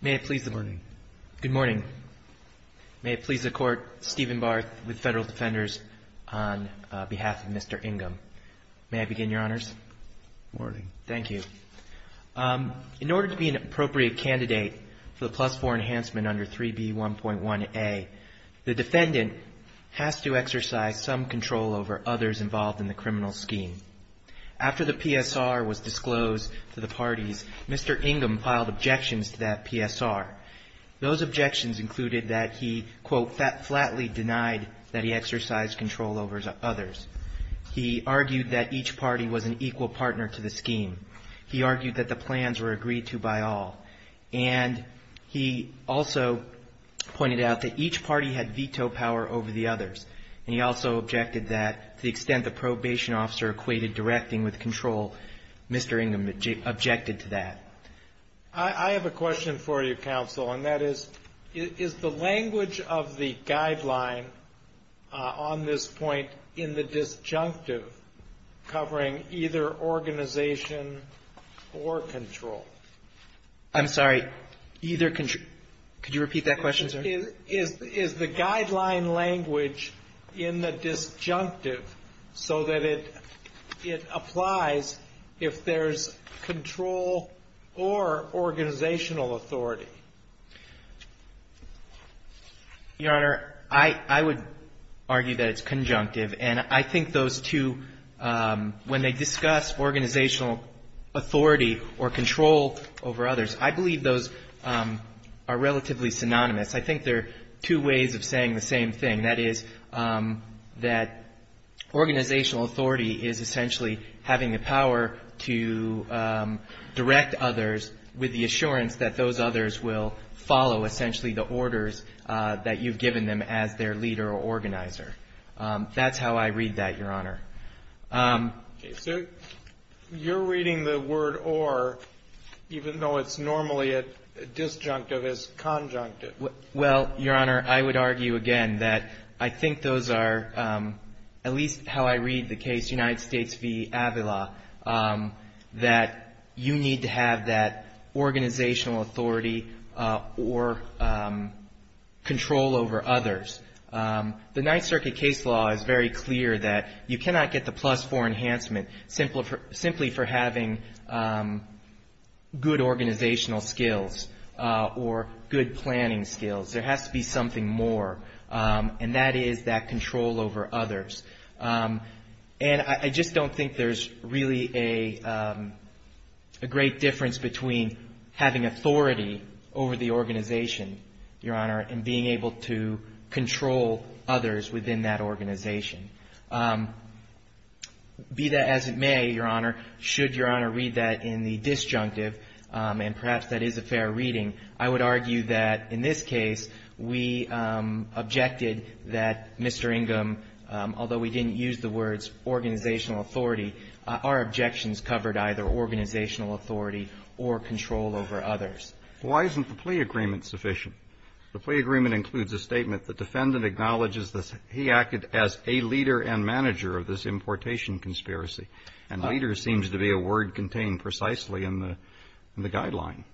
May it please the Court, Stephen Barth with Federal Defenders, on behalf of Mr. Ingham. May I begin, Your Honors? Thank you. In order to be an appropriate candidate for the plus-4 enhancement under 3B1.1a, the defendant has to exercise some control over others involved in the criminal scheme. After the PSR was disclosed to the parties, Mr. Ingham filed objections to that PSR. Those objections included that he, quote, flatly denied that he exercised control over others. He argued that each party was an equal partner to the scheme. He argued that the plans were agreed to by all. And he also pointed out that each party had veto power over the others. And he also objected that, to the extent the probation officer equated directing with control, Mr. Ingham objected to that. I have a question for you, counsel, and that is, is the language of the guideline on this point in the disjunctive covering either organization or control? I'm sorry. Either control. Could you repeat that question, sir? Is the guideline language in the disjunctive so that it applies if there's control or organizational authority? Your Honor, I would argue that it's conjunctive. And I think those two, when they discuss organizational authority or control over others, I believe those are relatively synonymous. I think they're two ways of saying the same thing. That is, that organizational authority is essentially having the power to direct others with the assurance that those others will follow, essentially, the orders that you've given them as their leader or organizer. That's how I read that, Your Honor. Okay. So you're reading the word or, even though it's normally disjunctive, as conjunctive. Well, Your Honor, I would argue again that I think those are, at least how I read the case, United States v. Avila, that you need to have that organizational authority or control over others. The Ninth Circuit case law is very clear that you cannot get the plus four enhancement simply for having good organizational skills or good planning skills. There has to be something more, and that is that control over others. And I just don't think there's really a great difference between having authority over the organization, Your Honor, and being able to control others within that organization. Be that as it may, Your Honor, should Your Honor read that in the disjunctive, and perhaps that is a fair reading, I would argue that in this case we objected that Mr. Ingham, although we didn't use the words organizational authority, our objections covered either organizational authority or control over others. Why isn't the plea agreement sufficient? The plea agreement includes a statement, the defendant acknowledges that he acted as a leader and manager of this importation conspiracy, and leader seems to be a word contained precisely in the guideline.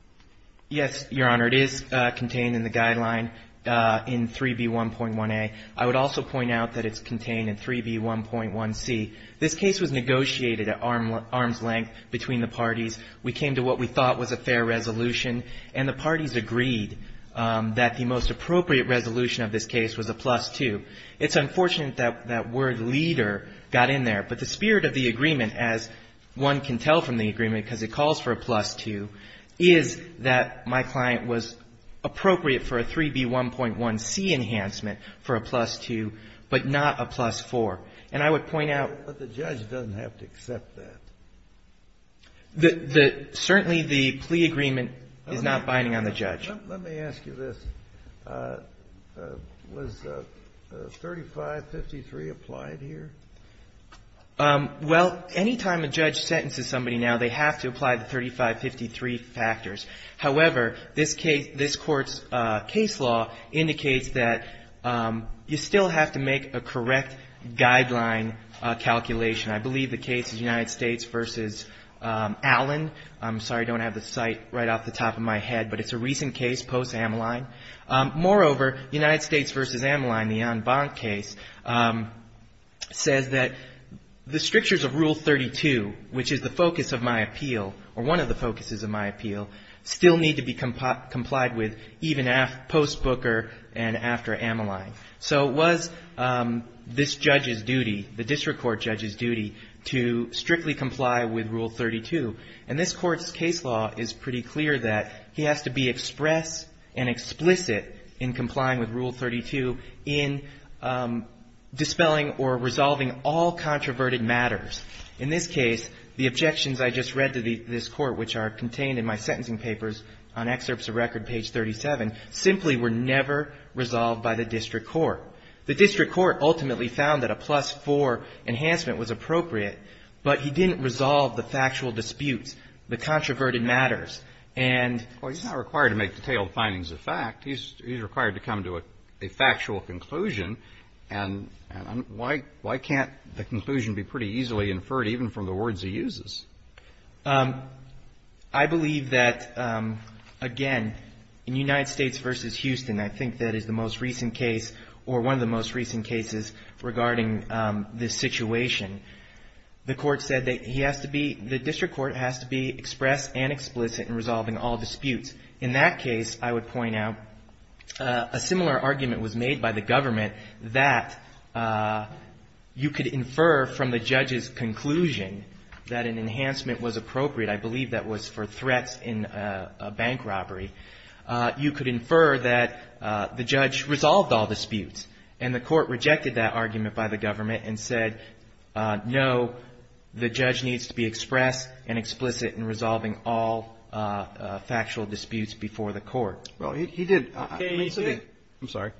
Yes, Your Honor, it is contained in the guideline in 3B1.1a. I would also point out that it's contained in 3B1.1c. This case was negotiated at arm's length between the parties. We came to what we thought was a fair resolution, and the parties agreed that the most appropriate resolution of this case was a plus 2. It's unfortunate that that word leader got in there, but the spirit of the agreement as one can tell from the agreement because it calls for a plus 2, is that my client was appropriate for a 3B1.1c enhancement for a plus 2, but not a plus 4. And I would point out But the judge doesn't have to accept that. Certainly the plea agreement is not binding on the judge. Let me ask you this. Was 3553 applied here? Well, any time a judge sentences somebody now, they have to apply the 3553 factors. However, this Court's case law indicates that you still have to make a correct guideline calculation. I believe the case is United States v. Allen. I'm sorry I don't have the site right off the top of my head, but it's a recent case post-Amyline. Moreover, United States v. Amyline, the Ann Bonk case, says that the strictures of Rule 32, which is the focus of my appeal, or one of the focuses of my appeal, still need to be complied with even post-Booker and after Amyline. So it was this judge's duty, the district court judge's duty, to strictly comply with Rule 32. And this Court's case law is pretty clear that he has to be express and explicit in complying with Rule 32 in dispelling or resolving all controverted matters. In this case, the objections I just read to this Court, which are contained in my sentencing papers on excerpts of record page 37, simply were never resolved by the district court. The district court ultimately found that a plus-4 enhancement was appropriate, but he didn't resolve the factual disputes, the controverted matters. And he's not required to make detailed findings of fact. He's required to come to a factual conclusion. And why can't the conclusion be pretty easily inferred even from the words he uses? I believe that, again, in United States v. Houston, I think that is the most recent case or one of the most recent cases regarding this situation. The Court said that he has to be – the district court has to be express and explicit in resolving all disputes. In that case, I would point out a similar argument was made by the government that you could infer from the judge's conclusion that an enhancement was appropriate. I believe that was for threats in a bank robbery. You could infer that the judge resolved all disputes. And the Court rejected that argument by the government and said, no, the judge needs to be expressed and explicit in resolving all factual disputes before the Court. Well, he did. I'm sorry.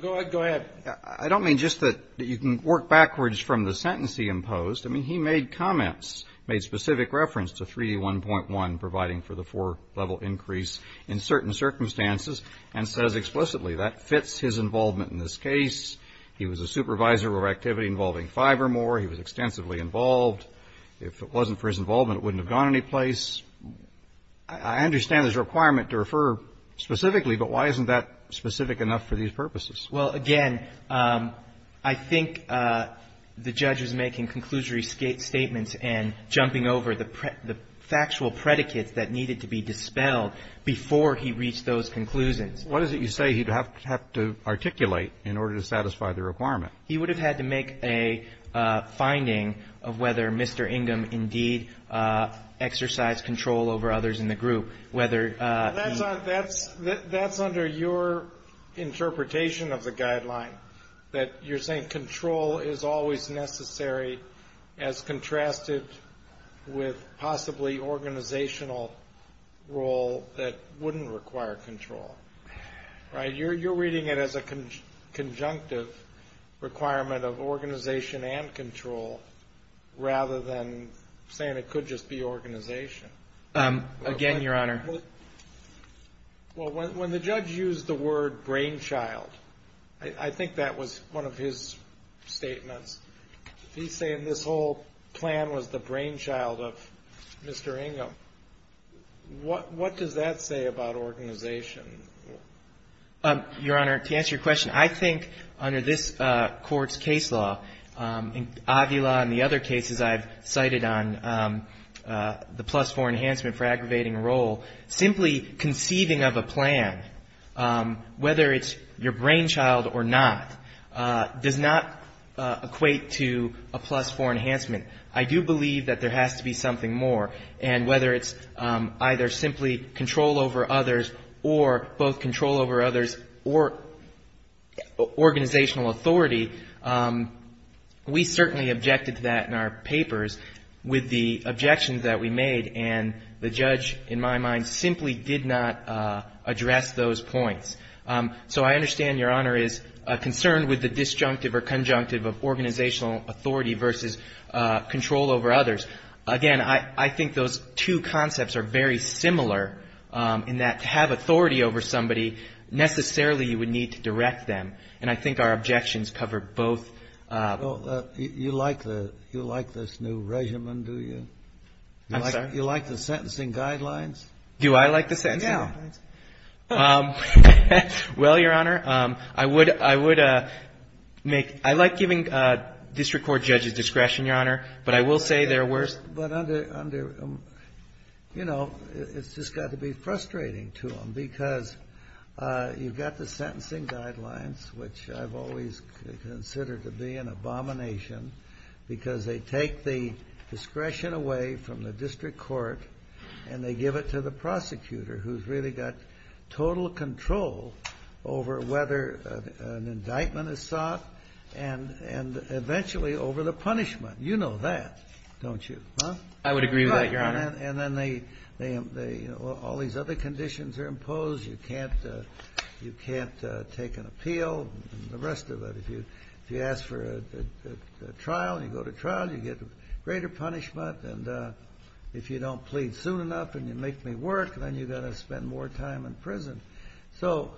Go ahead. I don't mean just that you can work backwards from the sentence he imposed. I mean, he made comments, made specific reference to 3D1.1 providing for the four-level increase in certain circumstances and says explicitly that fits his involvement in this case. He was a supervisor of activity involving Fivermore. He was extensively involved. If it wasn't for his involvement, it wouldn't have gone anyplace. I understand there's a requirement to refer specifically, but why isn't that specific enough for these purposes? Well, again, I think the judge was making conclusory statements and jumping over the factual predicates that needed to be dispelled before he reached those conclusions. What is it you say he'd have to articulate in order to satisfy the requirement? He would have had to make a finding of whether Mr. Ingham indeed exercised control over others in the group. That's under your interpretation of the guideline, that you're saying control is always necessary as contrasted with possibly organizational role that wouldn't require control. Right? You're reading it as a conjunctive requirement of organization and control rather than saying it could just be organization. Again, Your Honor. Well, when the judge used the word brainchild, I think that was one of his statements. He's saying this whole plan was the brainchild of Mr. Ingham. What does that say about organization? Your Honor, to answer your question, I think under this Court's case law, Avila and the other cases I've cited on the plus four enhancement for aggravating role, simply conceiving of a plan, whether it's your brainchild or not, does not equate to a plus four enhancement. I do believe that there has to be something more. And whether it's either simply control over others or both control over others or organizational authority, we certainly objected to that in our papers with the objections that we made. And the judge, in my mind, simply did not address those points. So I understand, Your Honor, is a concern with the disjunctive or conjunctive of organizational authority versus control over others. Again, I think those two concepts are very similar in that to have authority over somebody, necessarily you would need to direct them. And I think our objections cover both. You like this new regimen, do you? I'm sorry? You like the sentencing guidelines? Do I like the sentencing guidelines? Yeah. Well, Your Honor, I would make ñ I like giving district court judges discretion, Your Honor, but I will say they're worse. But under, you know, it's just got to be frustrating to them because you've got the sentencing guidelines, which I've always considered to be an abomination because they take the discretion away from the district court and they give it to the prosecutor who's really got total control over whether an indictment is sought and eventually over the punishment. You know that, don't you? I would agree with that, Your Honor. And then they ñ all these other conditions are imposed. You can't take an appeal and the rest of it. If you ask for a trial and you go to trial, you get greater punishment. And if you don't plead soon enough and you make me work, then you've got to spend more time in prison. So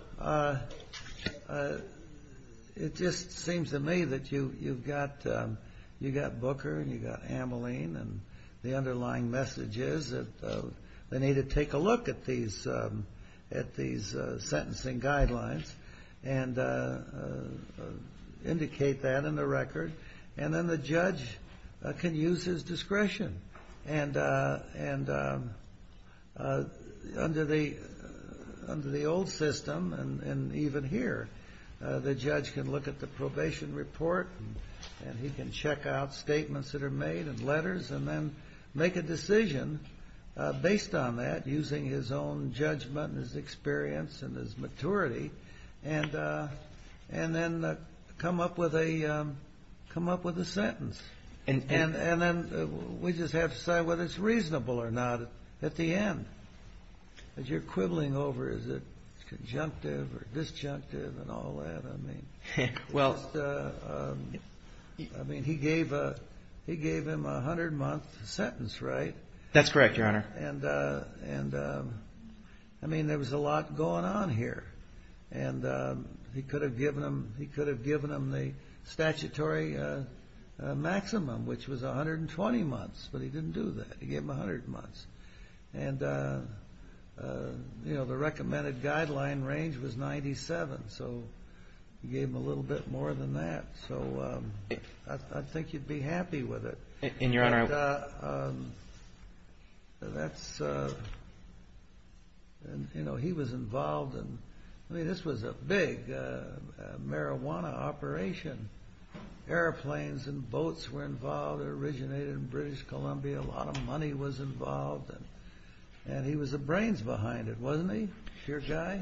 it just seems to me that you've got Booker and you've got Ameline and the underlying message is that they need to take a look at these sentencing guidelines and indicate that in the record. And then the judge can use his discretion. And under the old system and even here, the judge can look at the probation report and he can check out based on that, using his own judgment and his experience and his maturity, and then come up with a sentence. And then we just have to decide whether it's reasonable or not at the end. As you're quibbling over is it conjunctive or disjunctive and all that, I mean. Well, I mean, he gave him a 100-month sentence, right? That's correct, Your Honor. And, I mean, there was a lot going on here. And he could have given him the statutory maximum, which was 120 months, but he didn't do that. He gave him 100 months. And, you know, the recommended guideline range was 97, so he gave him a little bit more than that. So I think you'd be happy with it. And, Your Honor, I... And that's, you know, he was involved in, I mean, this was a big marijuana operation. Airplanes and boats were involved. It originated in British Columbia. A lot of money was involved. And he was the brains behind it, wasn't he, dear guy?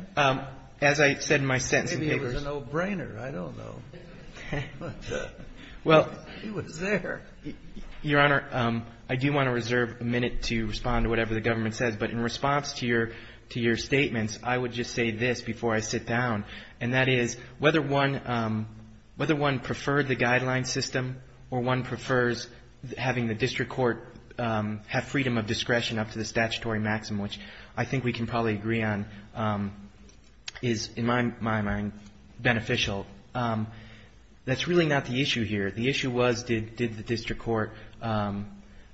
As I said in my sentencing papers... Maybe it was a no-brainer. I don't know. But he was there. Your Honor, I do want to reserve a minute to respond to whatever the government says. But in response to your statements, I would just say this before I sit down, and that is whether one preferred the guideline system or one prefers having the district court have freedom of discretion up to the statutory maximum, which I think we can probably agree on, is, in my mind, beneficial. That's really not the issue here. The issue was did the district court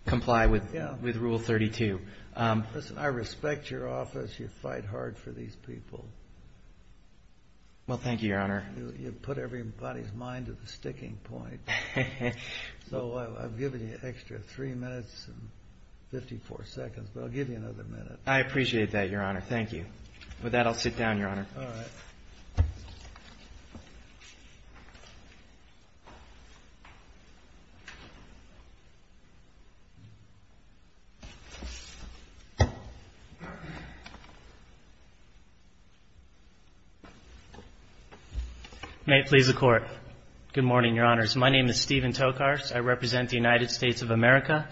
comply with Rule 32. Listen, I respect your office. You fight hard for these people. Well, thank you, Your Honor. You put everybody's mind at the sticking point. So I'm giving you an extra three minutes and 54 seconds, but I'll give you another minute. I appreciate that, Your Honor. Thank you. With that, I'll sit down, Your Honor. All right. May it please the Court. Good morning, Your Honors. My name is Steven Tokars. I represent the United States of America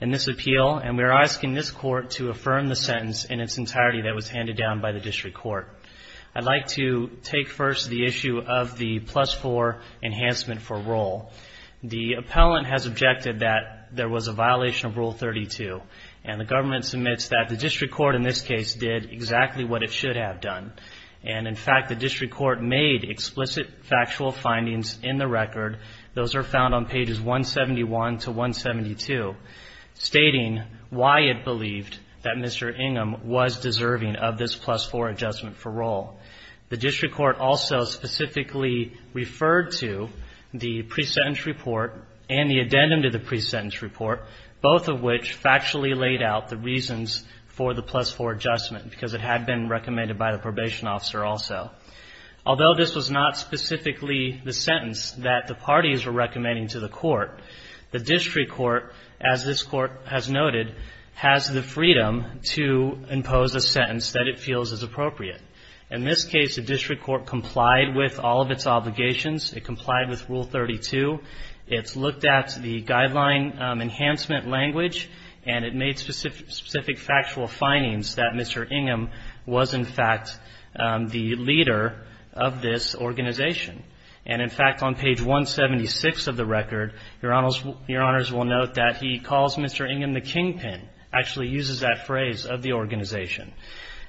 in this appeal, and we are asking this Court to affirm the sentence in its entirety that was handed down by the district court. I'd like to take first the issue of the plus-4 enhancement for roll. The appellant has objected that there was a violation of Rule 32, and the government submits that the district court in this case did exactly what it should have done. And, in fact, the district court made explicit factual findings in the record. Those are found on pages 171 to 172, stating why it believed that Mr. Ingham was deserving of this plus-4 adjustment for roll. The district court also specifically referred to the pre-sentence report and the addendum to the pre-sentence report, both of which factually laid out the reasons for the plus-4 adjustment, because it had been recommended by the probation officer also. Although this was not specifically the sentence that the parties were recommending to the court, the district court, as this Court has noted, has the freedom to impose a sentence that it feels is appropriate. In this case, the district court complied with all of its obligations. It complied with Rule 32. It's looked at the guideline enhancement language, and it made specific factual findings that Mr. Ingham was, in fact, the leader of this organization. And, in fact, on page 176 of the record, Your Honors will note that he calls Mr. Ingham the kingpin, actually uses that phrase, of the organization.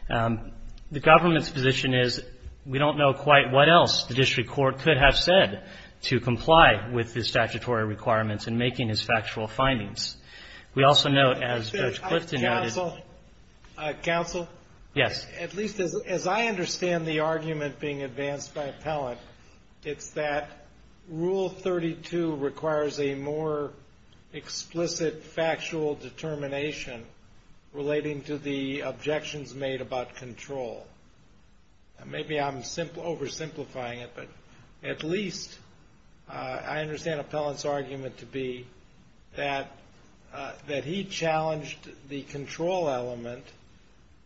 The government's position is we don't know quite what else the district court could have said to comply with his statutory requirements in making his factual findings. We also note, as Judge Clifton noted- Counsel? Counsel? Yes. At least as I understand the argument being advanced by appellant, it's that Rule 32 requires a more explicit factual determination relating to the objections made about control. Maybe I'm oversimplifying it, but at least I understand appellant's argument to be that he challenged the control element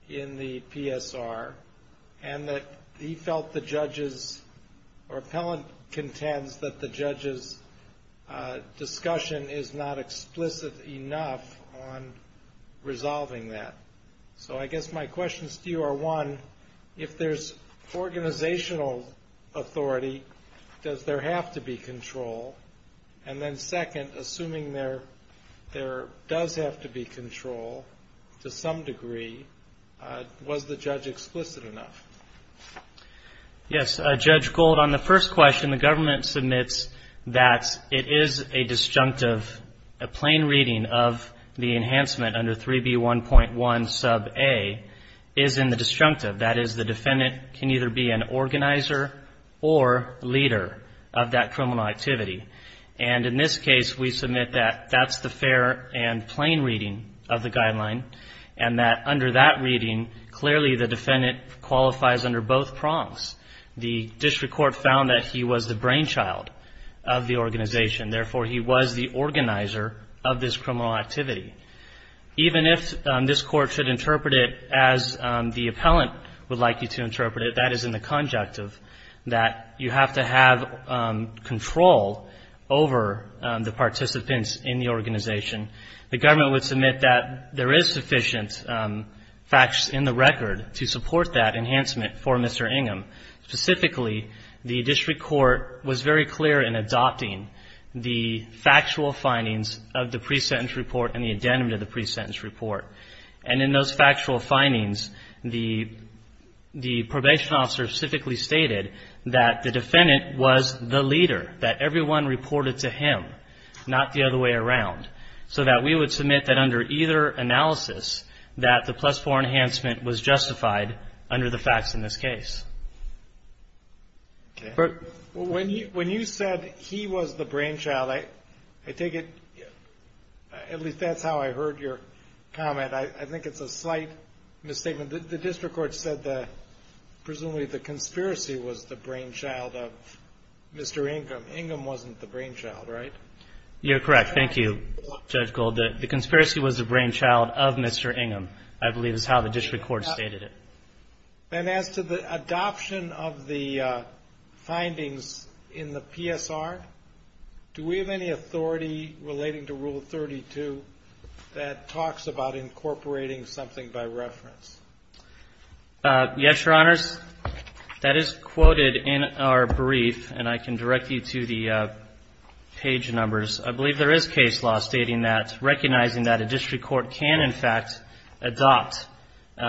in the PSR and that he felt the judge's, or appellant contends, that the judge's discussion is not explicit enough on resolving that. So I guess my questions to you are, one, if there's organizational authority, does there have to be control? And then, second, assuming there does have to be control to some degree, was the judge explicit enough? Yes. Judge Gold, on the first question, the government submits that it is a disjunctive, a plain reading of the enhancement under 3B1.1 sub A is in the disjunctive. That is, the defendant can either be an organizer or leader of that criminal activity. And in this case, we submit that that's the fair and plain reading of the guideline and that under that reading, clearly the defendant qualifies under both prongs. The district court found that he was the brainchild of the organization. Therefore, he was the organizer of this criminal activity. Even if this court should interpret it as the appellant would like you to interpret it, that is in the conjunctive, that you have to have control over the participants in the organization. The government would submit that there is sufficient facts in the record to support that enhancement for Mr. Ingham. Specifically, the district court was very clear in adopting the factual findings of the pre-sentence report and the addendum to the pre-sentence report. And in those factual findings, the probation officer specifically stated that the defendant was the leader, that everyone reported to him, not the other way around. So that we would submit that under either analysis, that the plus four enhancement was justified under the facts in this case. When you said he was the brainchild, I take it, at least that's how I heard your comment. I think it's a slight misstatement. The district court said that presumably the conspiracy was the brainchild of Mr. Ingham. Ingham wasn't the brainchild, right? You're correct. Thank you, Judge Gold. The conspiracy was the brainchild of Mr. Ingham, I believe is how the district court stated it. And as to the adoption of the findings in the PSR, do we have any authority relating to Rule 32 that talks about incorporating something by reference? Yes, Your Honors. That is quoted in our brief, and I can direct you to the page numbers. I believe there is case law stating that, recognizing that a district court can, in fact, adopt the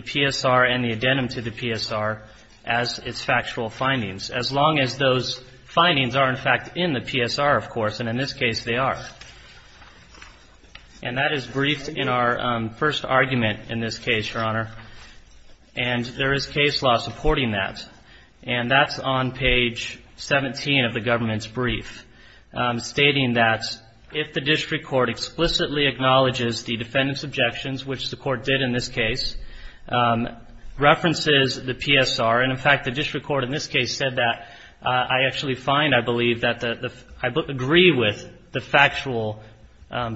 PSR and the addendum to the PSR as its factual findings, as long as those findings are, in fact, in the PSR, of course, and in this case they are. And that is briefed in our first argument in this case, Your Honor. And there is case law supporting that, and that's on page 17 of the government's brief, stating that if the district court explicitly acknowledges the defendant's objections, which the court did in this case, references the PSR, and, in fact, the district court in this case said that, I actually find I believe that I agree with the factual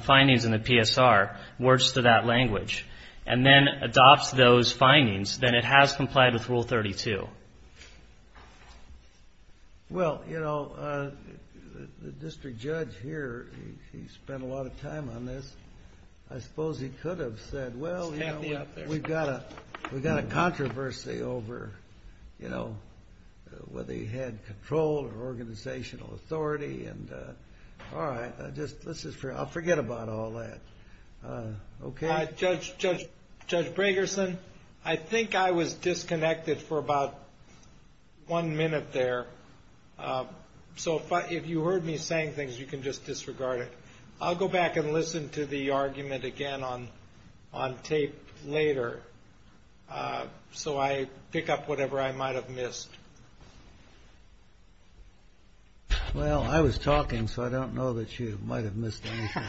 findings in the PSR, words to that language, and then adopts those findings, then it has complied with Rule 32. Well, you know, the district judge here, he spent a lot of time on this. I suppose he could have said, well, you know, we've got a controversy over, you know, whether he had control or organizational authority, and all right, I'll forget about all that. Okay. Judge Bragerson, I think I was disconnected for about one minute there. So if you heard me saying things, you can just disregard it. I'll go back and listen to the argument again on tape later so I pick up whatever I might have missed. Well, I was talking, so I don't know that you might have missed anything.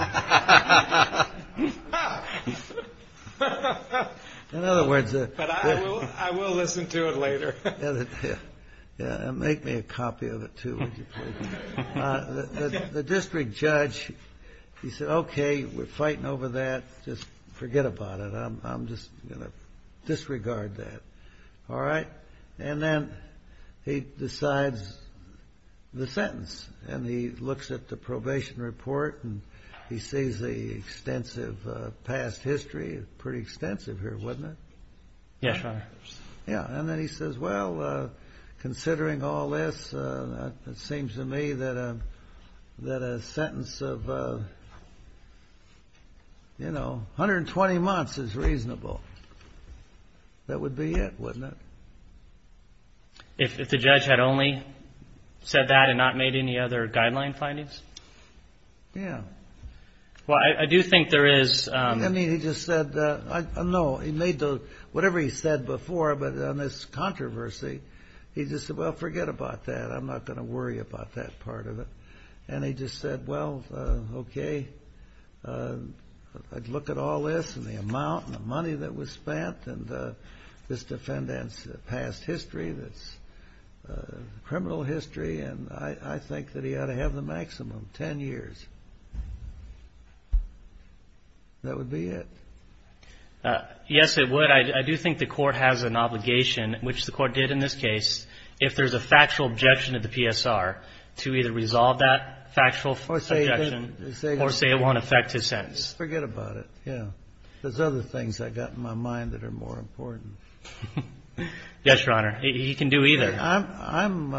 In other words. But I will listen to it later. Make me a copy of it, too, would you please. The district judge, he said, okay, we're fighting over that. Just forget about it. I'm just going to disregard that. All right. And then he decides the sentence. And he looks at the probation report and he sees the extensive past history, pretty extensive here, wasn't it? Yes, Your Honor. Yeah. And then he says, well, considering all this, it seems to me that a sentence of, you know, 120 months is reasonable. That would be it, wouldn't it? If the judge had only said that and not made any other guideline findings? Yeah. Well, I do think there is. I mean, he just said, no, he made the, whatever he said before, but on this controversy, he just said, well, forget about that. I'm not going to worry about that part of it. And he just said, well, okay, I'd look at all this and the amount and the money that was spent, and this defendant's past history that's criminal history, and I think that he ought to have the maximum, 10 years. That would be it. Yes, it would. I do think the court has an obligation, which the court did in this case. If there's a factual objection to the PSR, to either resolve that factual objection or say it won't affect his sentence. Forget about it. Yeah. There's other things I've got in my mind that are more important. Yes, Your Honor. He can do either. I'm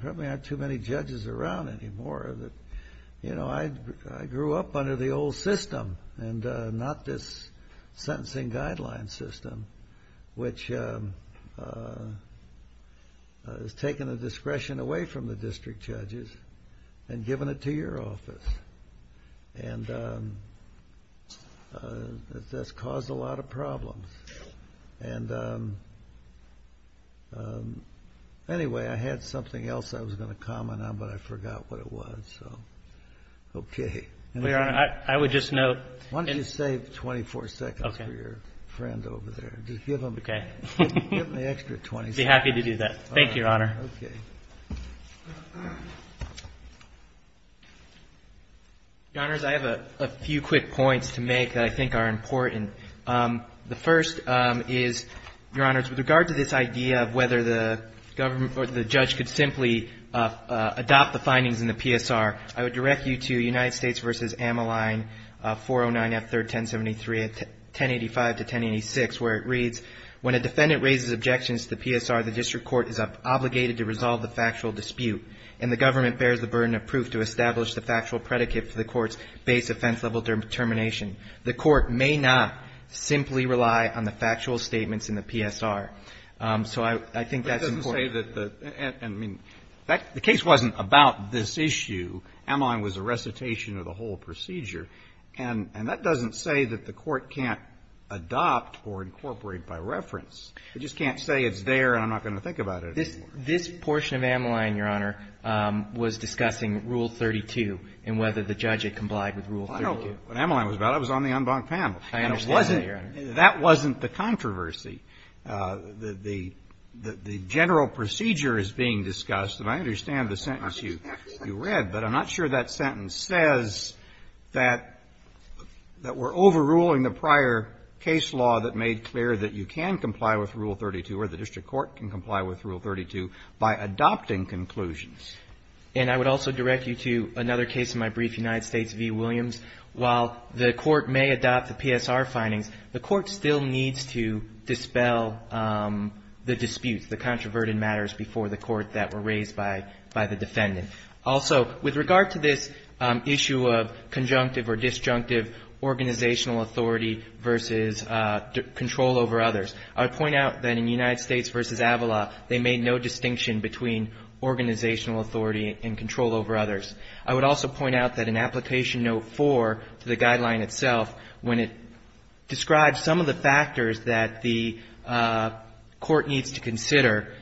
probably not too many judges around anymore. You know, I grew up under the old system and not this sentencing guideline system, which has taken the discretion away from the district judges and given it to your office. And that's caused a lot of problems. And anyway, I had something else I was going to comment on, but I forgot what it was. So, okay. Your Honor, I would just note. Why don't you save 24 seconds for your friend over there? Just give him the extra 20 seconds. I'd be happy to do that. Thank you, Your Honor. Okay. Your Honors, I have a few quick points to make that I think are important. The first is, Your Honors, with regard to this idea of whether the government or the judge could simply adopt the findings in the PSR, I would direct you to United States v. Amaline, 409 F. 3rd, 1073, 1085-1086, where it reads, when a defendant raises objections to the PSR, the district court is obligated to resolve the factual dispute and the government bears the burden of proof to establish the factual predicate for the court's base offense level determination. The court may not simply rely on the factual statements in the PSR. So I think that's important. But it doesn't say that the – I mean, the case wasn't about this issue. Amaline was a recitation of the whole procedure. And that doesn't say that the court can't adopt or incorporate by reference. It just can't say it's there and I'm not going to think about it anymore. This portion of Amaline, Your Honor, was discussing Rule 32 and whether the judge had complied with Rule 32. Well, I don't know what Amaline was about. It was on the unbunked panel. I understand that, Your Honor. And it wasn't – that wasn't the controversy. The general procedure is being discussed, and I understand the sentence you read, but I'm not sure that sentence says that we're overruling the prior case law that made clear that you can comply with Rule 32 or the district court can comply with Rule 32 by adopting conclusions. And I would also direct you to another case in my brief, United States v. Williams. While the court may adopt the PSR findings, the court still needs to dispel the disputes, the controverted matters before the court that were raised by the defendant. Also, with regard to this issue of conjunctive or disjunctive organizational authority versus control over others, I would point out that in United States v. Avala, they made no distinction between organizational authority and control over others. I would also point out that in Application Note 4 to the guideline itself, when it describes some of the factors that the court needs to consider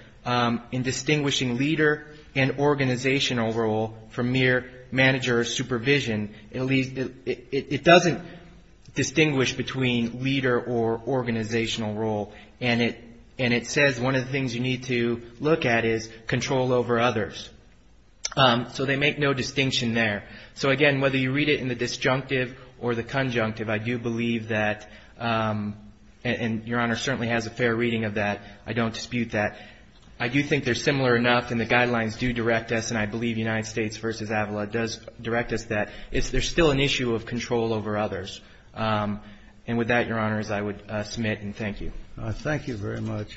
in distinguishing leader and organizational role from mere manager supervision, it doesn't distinguish between leader or organizational role. And it says one of the things you need to look at is control over others. So they make no distinction there. So, again, whether you read it in the disjunctive or the conjunctive, I do believe that, and Your Honor certainly has a fair reading of that. I don't dispute that. I do think they're similar enough, and the guidelines do direct us, and I believe United States v. Avala does direct us that there's still an issue of control over others. And with that, Your Honors, I would submit and thank you. Thank you very much.